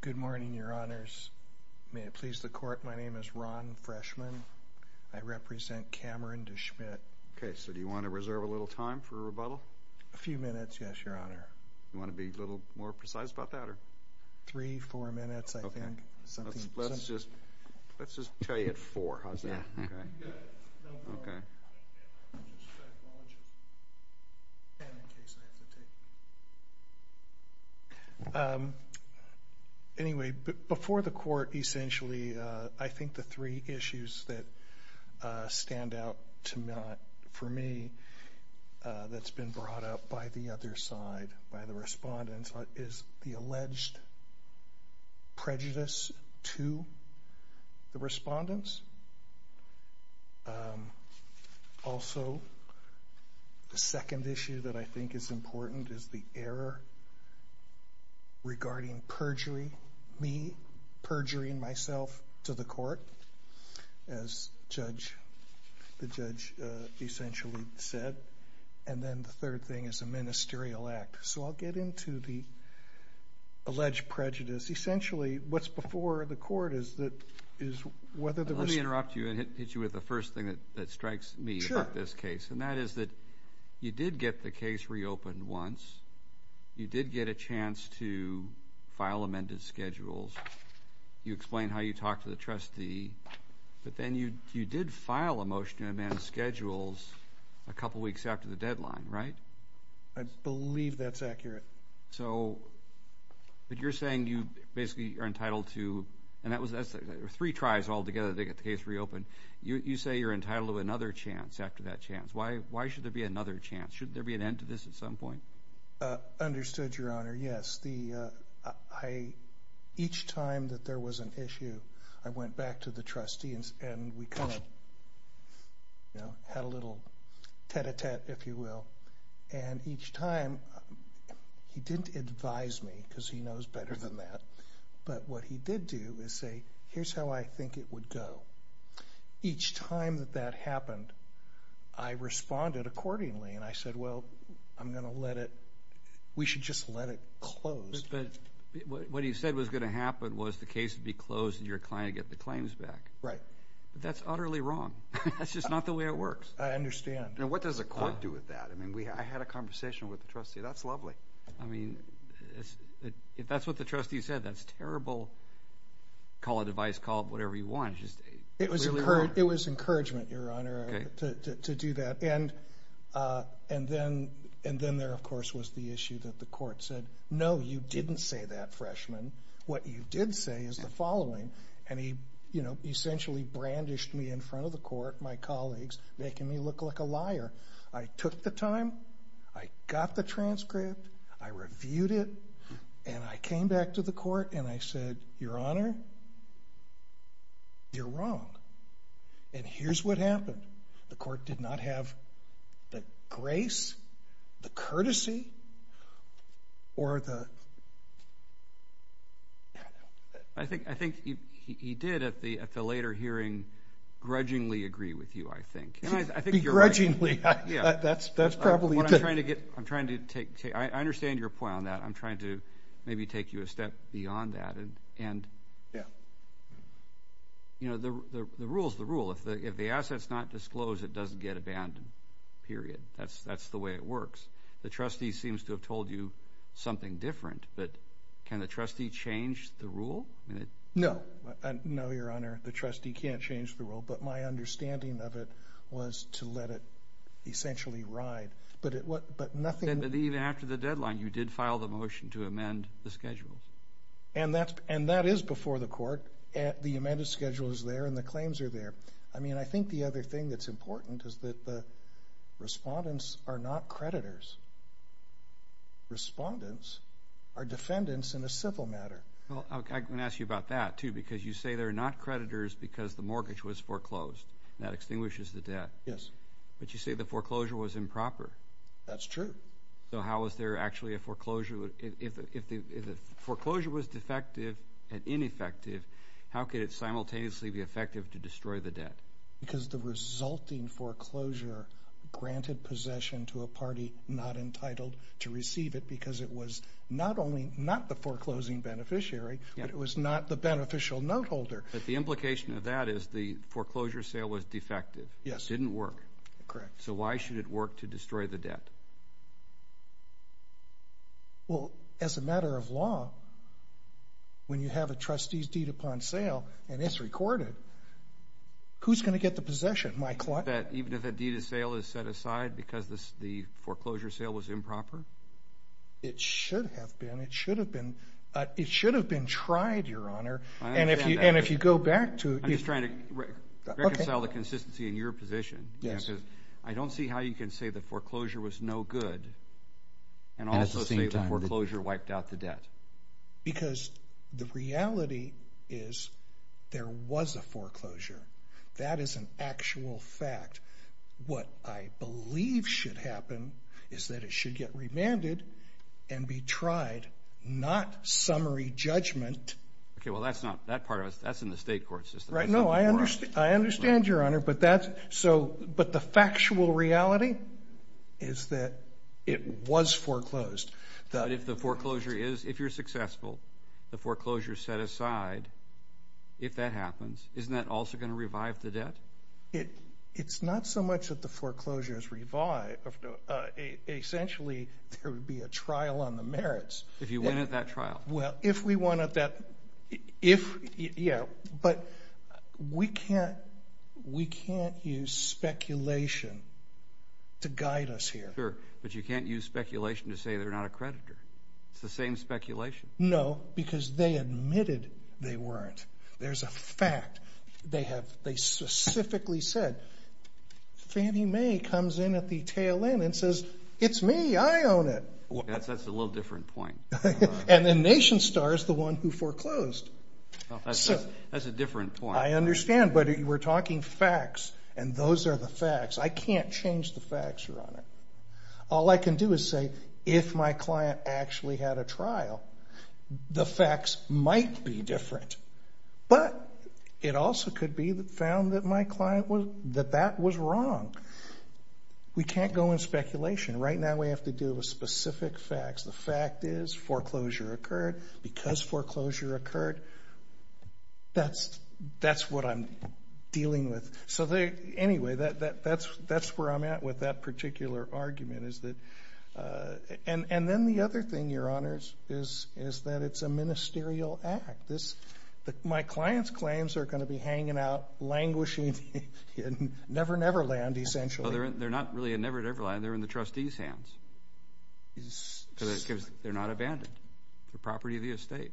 Good morning, your honors. May it please the court, my name is Ron Freshman. I represent Cameron DeSchmidt. Okay, so do you want to reserve a little time for a rebuttal? A few minutes, yes, your honor. You want to be a little more precise about that? Three, four minutes. Anyway, before the court, essentially, I think the three issues that stand out to me, for me, that's been brought up by the other side, by the respondents, is the alleged regarding perjury, me perjuring myself to the court, as the judge essentially said. And then the third thing is a ministerial act. So I'll get into the alleged prejudice. Essentially, what's before the court is that is whether the... Let me interrupt you and hit you with the first thing that strikes me about this case, and that is that you did get the case reopened once. You did get a chance to file amended schedules. You explained how you talked to the trustee, but then you did file a motion to amend schedules a couple weeks after the deadline, right? I believe that's accurate. So, but you're saying you basically are entitled to, and that was three tries all together to get the case reopened. You say you're entitled to another chance after that chance. Why should there be another chance? Should there be an end to this at some point? Understood, Your Honor. Yes. Each time that there was an issue, I went back to the trustee and we kind of had a little tête-à-tête, if you will. And each time, he didn't advise me, because he knows better than that. But what he did do is say, here's how I think it would go. Each time that happened, I responded accordingly. And I said, well, I'm going to let it, we should just let it close. But what he said was going to happen was the case would be closed and your client get the claims back. Right. That's utterly wrong. That's just not the way it works. I understand. And what does a court do with that? I mean, I had a conversation with the trustee. That's lovely. I mean, if that's what the trustee said, that's terrible. Call it advice, call it whatever you want. It was encouragement, Your Honor, to do that. And then there, of course, was the issue that the court said, no, you didn't say that, freshman. What you did say is the following. And he, you know, essentially brandished me in front of the court, my colleagues, making me look like a liar. I took the time. I got the transcript. I reviewed it. And I came back to the court and I said, Your Honor, you're wrong. And here's what happened. The court did not have the grace, the courtesy, or the... I think he did, at the later hearing, grudgingly agree with you, I think. Begrudgingly. That's probably... I'm trying to take, I understand your point on that. I'm trying to maybe take you a step beyond that. And, you know, the rule's the rule. If the asset's not disclosed, it doesn't get abandoned. Period. That's the way it works. The trustee seems to have told you something different. But can the trustee change the rule? No. No, Your Honor, the trustee can't change the rule. But my understanding of it was to let it essentially ride. But nothing... But even after the deadline, you did file the motion to amend the schedule. And that is before the court. The amended schedule is there and the claims are there. I mean, I think the other thing that's important is that the respondents are not creditors. Respondents are defendants in a civil matter. Well, I'm going to ask you about that, too, because you say they're not creditors because the mortgage was foreclosed. That extinguishes the debt. Yes. But you say the foreclosure was improper. That's true. So how is there actually a foreclosure? If the foreclosure was defective and ineffective, how could it simultaneously be effective to destroy the debt? Because the resulting foreclosure granted possession to a party not entitled to receive it because it was not only not the foreclosing beneficiary, but it was not the beneficial note holder. But the implication of that is the foreclosure sale was defective. Yes. Didn't work. Correct. So why should it work to destroy the debt? Well, as a matter of law, when you have a trustee's deed upon sale and it's recorded, who's going to get the possession? My client? Even if a deed of sale is set aside because the foreclosure sale was improper? It should have been. It should have been. It should have been tried, Your Honor. And if you go back to... I'm just trying to reconcile the consistency in your position. Yes. I don't see how you can say the foreclosure was no good and also say the foreclosure wiped out the debt. Because the reality is there was a foreclosure. That is an actual fact. What I believe should happen is that it should get remanded and be tried, not summary judgment. Okay. Well, that's not that part of it. That's in the state court system. Right. No, I understand. I But the factual reality is that it was foreclosed. But if the foreclosure is, if you're successful, the foreclosure is set aside, if that happens, isn't that also going to revive the debt? It's not so much that the foreclosure is revived. Essentially, there would be a trial on the merits. If you win at that, yeah. But we can't use speculation to guide us here. Sure. But you can't use speculation to say they're not a creditor. It's the same speculation. No, because they admitted they weren't. There's a fact. They specifically said, Fannie Mae comes in at the tail end and says, it's me, I own it. That's a little different point. And then Nation Star is the one who foreclosed. That's a different point. I understand. But we're talking facts, and those are the facts. I can't change the facts, Your Honor. All I can do is say, if my client actually had a trial, the facts might be different. But it also could be found that that was wrong. We have to deal with specific facts. The fact is, foreclosure occurred. Because foreclosure occurred, that's what I'm dealing with. So anyway, that's where I'm at with that particular argument. And then the other thing, Your Honors, is that it's a ministerial act. My client's claims are going to be hanging out, languishing in Never Never Land, essentially. They're not really in Never Never Land. They're in the trustee's hands. Because they're not abandoned. They're property of the estate.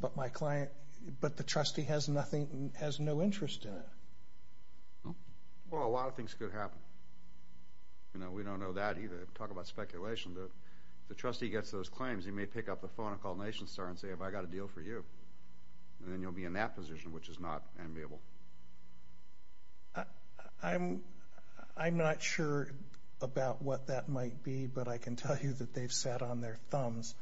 But the trustee has no interest in it. Well, a lot of things could happen. We don't know that either. Talk about speculation. If the trustee gets those claims, he may pick up the phone and call Nation Star and say, have I a deal for you? And then you'll be in that position, which is not amiable. I'm not sure about what that might be. But I can tell you that they've sat on their thumbs.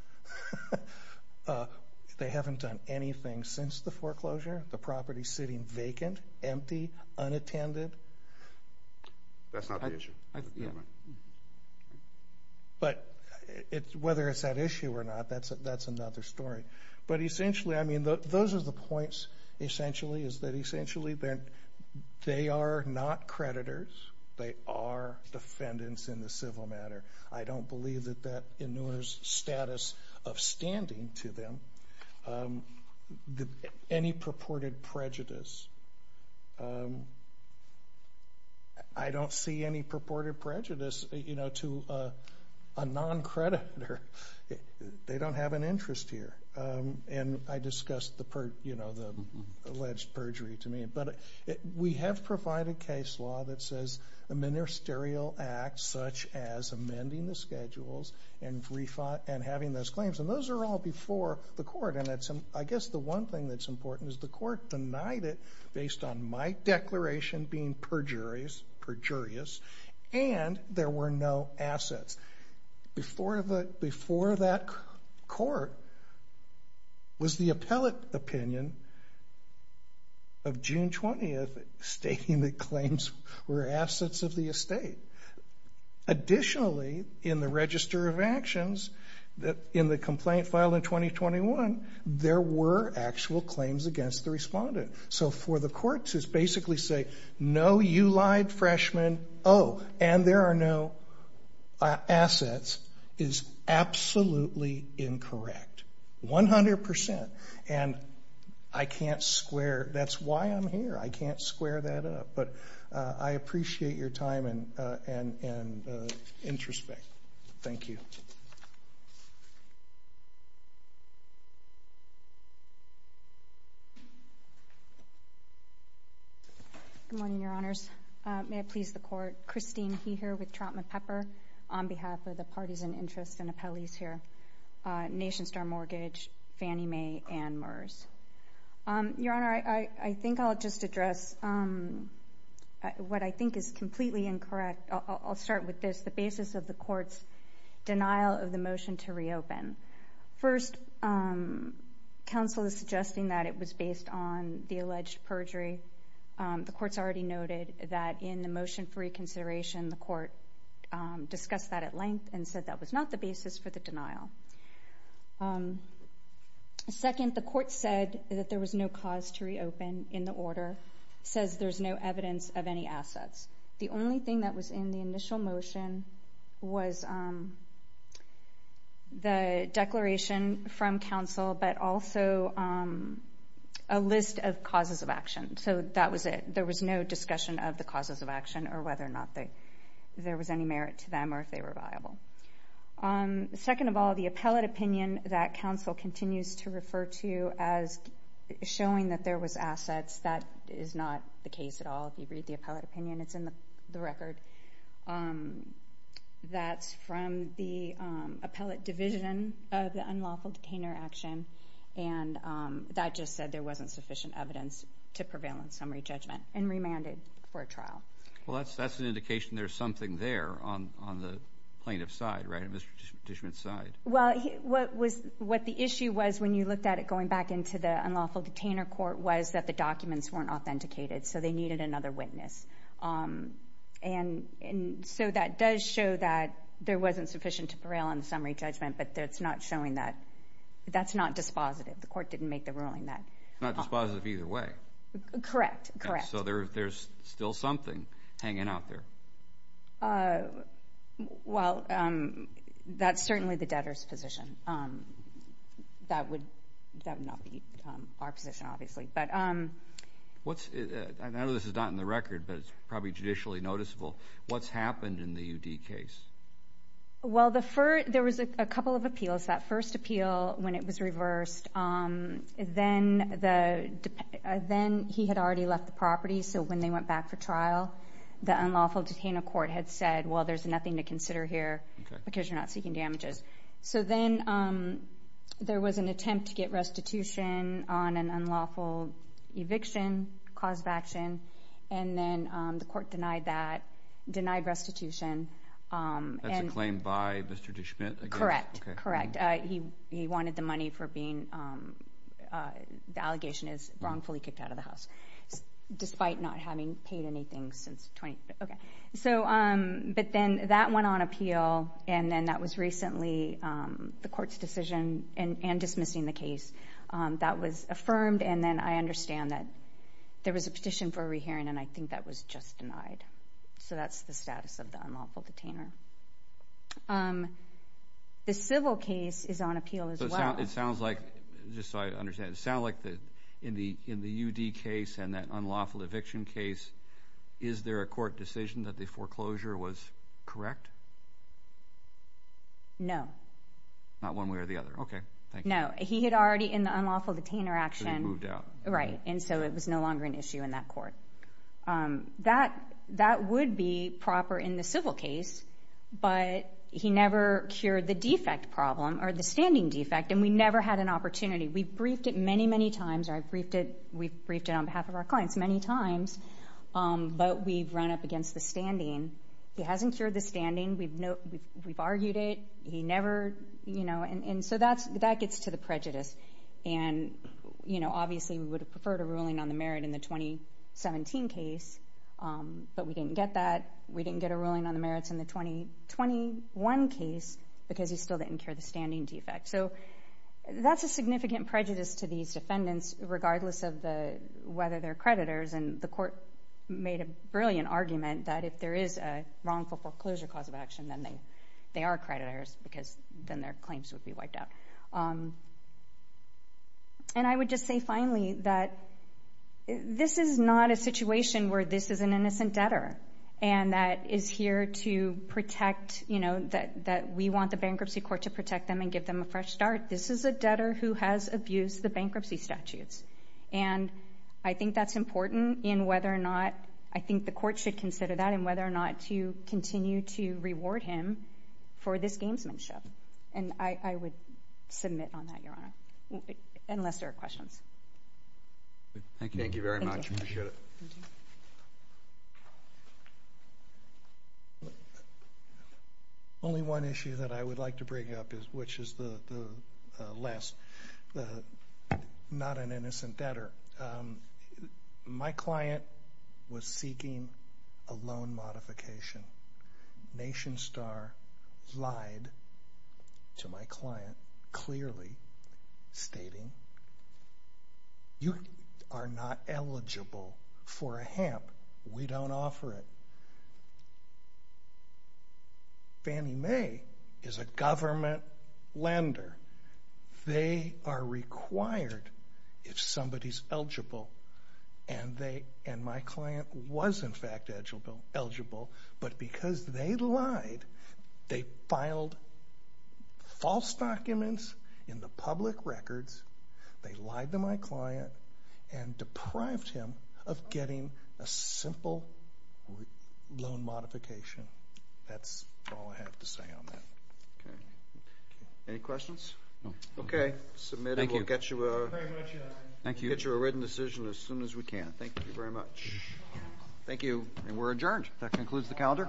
They haven't done anything since the foreclosure. The property's sitting vacant, empty, unattended. That's not the issue. But whether it's that issue or not, that's another story. But essentially, I mean, those are the points, essentially, is that essentially they are not creditors. They are defendants in the civil matter. I don't believe that that ensures status of standing to them. Any purported prejudice. I don't see any purported prejudice to a non-creditor. They don't have an interest here. And I discussed the alleged perjury to me. But we have provided case law that says a ministerial act, such as amending the schedules and having those claims. And those are all before the court. And I guess the one thing that's important is the court denied it based on my declaration being perjurious. And there were no assets. Before that court was the appellate opinion of June 20th stating that claims were assets of the appellate. Additionally, in the register of actions, in the complaint filed in 2021, there were actual claims against the respondent. So for the courts to basically say, no, you lied, freshman. Oh, and there are no assets is absolutely incorrect. 100%. And I can't square, that's why I'm here. I can't square that. And introspect. Thank you. Good morning, Your Honors. May it please the court. Christine He here with Trautman Pepper on behalf of the parties in interest and appellees here. Nation Star Mortgage, Fannie Mae, and MERS. Your Honor, I think I'll just address what I think is completely incorrect. I'll start with this. The basis of the court's denial of the motion to reopen. First, counsel is suggesting that it was based on the alleged perjury. The court's already noted that in the motion for reconsideration, the court discussed that at length and said that was not the basis for the denial. Second, the court said that there was no cause to reopen in the order. Says there's no evidence of any assets. The only thing that was in the initial motion was the declaration from counsel, but also a list of causes of action. So that was it. There was no discussion of the causes of action or whether or not there was any merit to them or if they were viable. Second of all, the appellate opinion that counsel continues to refer to as showing that there was assets, that is not the case at all. If you read the appellate opinion, it's in the record. That's from the appellate division of the unlawful detainer action, and that just said there wasn't sufficient evidence to prevail in summary judgment. And remanded for a trial. Well, that's that's an indication there's something there on on the plaintiff side, right? Mr. Dishman side. Well, what was what the issue was when you looked at it going back into the unlawful detainer court was that the documents weren't authenticated, so they needed another witness. And so that does show that there wasn't sufficient to prevail in summary judgment, but that's not showing that that's not dispositive. The court didn't make the ruling that not dispositive either way. Correct. Correct. So there there's still something hanging out there. Well, that's certainly the debtor's position that would that would not be our position, obviously, but what's this is not in the record, but it's probably judicially noticeable. What's happened in the UD case? Well, the first there was a couple of appeals that first appeal when it was reversed. Then the then he had already left the property. So when they went back for trial, the unlawful detainer court had said, well, there's nothing to consider here because you're not seeking damages. So then there was an attempt to get restitution on an unlawful eviction cause of action, and then the court denied that denied restitution. That's a claim by Mr. Dishman. Correct. Correct. He he wanted the money for being the allegation is wrongfully kicked out of the house despite not having paid anything since 20. OK, so but then that went on appeal and then that was recently the court's decision and dismissing the case that was affirmed. And then I understand that there was a petition for a rehearing, and I think that was just denied. So that's the status of the unlawful detainer. Um, the civil case is on appeal as well. It sounds like just so I understand sound like that in the in the UD case and that unlawful eviction case. Is there a court decision that the foreclosure was correct? No, not one way or the other. OK, no, he had already in the unlawful detainer action moved out, right? And so it was no longer an issue in that court that that would be proper in the civil case, but he never cured the defect problem or the standing defect. And we never had an opportunity. We briefed it many, many times. I briefed it. We briefed it on behalf of our clients many times, but we've run up against the standing. He hasn't cured the standing. We've no, we've argued it. He never, you know, and so that's that gets to the prejudice. And, you know, obviously we would have preferred a ruling on the merit in the 2017 case, but we didn't get that. We didn't get a ruling on the merits in the 2021 case because he still didn't cure the standing defect. So that's a significant prejudice to these defendants, regardless of the whether they're creditors. And the court made a brilliant argument that if there is a wrongful foreclosure cause of action, then they they are creditors because then their claims would be wiped out. And I would just say finally that this is not a situation where this is an innocent debtor and that is here to protect, you know, that that we want the bankruptcy court to protect them and give them a fresh start. This is a debtor who has abused the bankruptcy statutes. And I think that's important in whether or not I think the court should consider that and whether or not to continue to reward him for this gamesmanship. And I would submit on that, Your Honor, unless there are questions. Thank you. Thank you very much. Appreciate it. Only one issue that I would like to bring up is, which is the last, the not an innocent debtor. My client was seeking a loan modification. NationStar lied to my client, clearly stating you are not eligible for a HAMP. We don't offer it. Fannie Mae is a government lender. They are required, if somebody's eligible, and they, and my client was in fact eligible, but because they lied, they filed false documents in the public records. They lied to my client and deprived him of getting a simple loan modification. That's all I have to say on that. Any questions? Okay. Submitted. We'll get you a written decision as soon as we can. Thank you very much. Thank you. And we're adjourned. That concludes the calendar.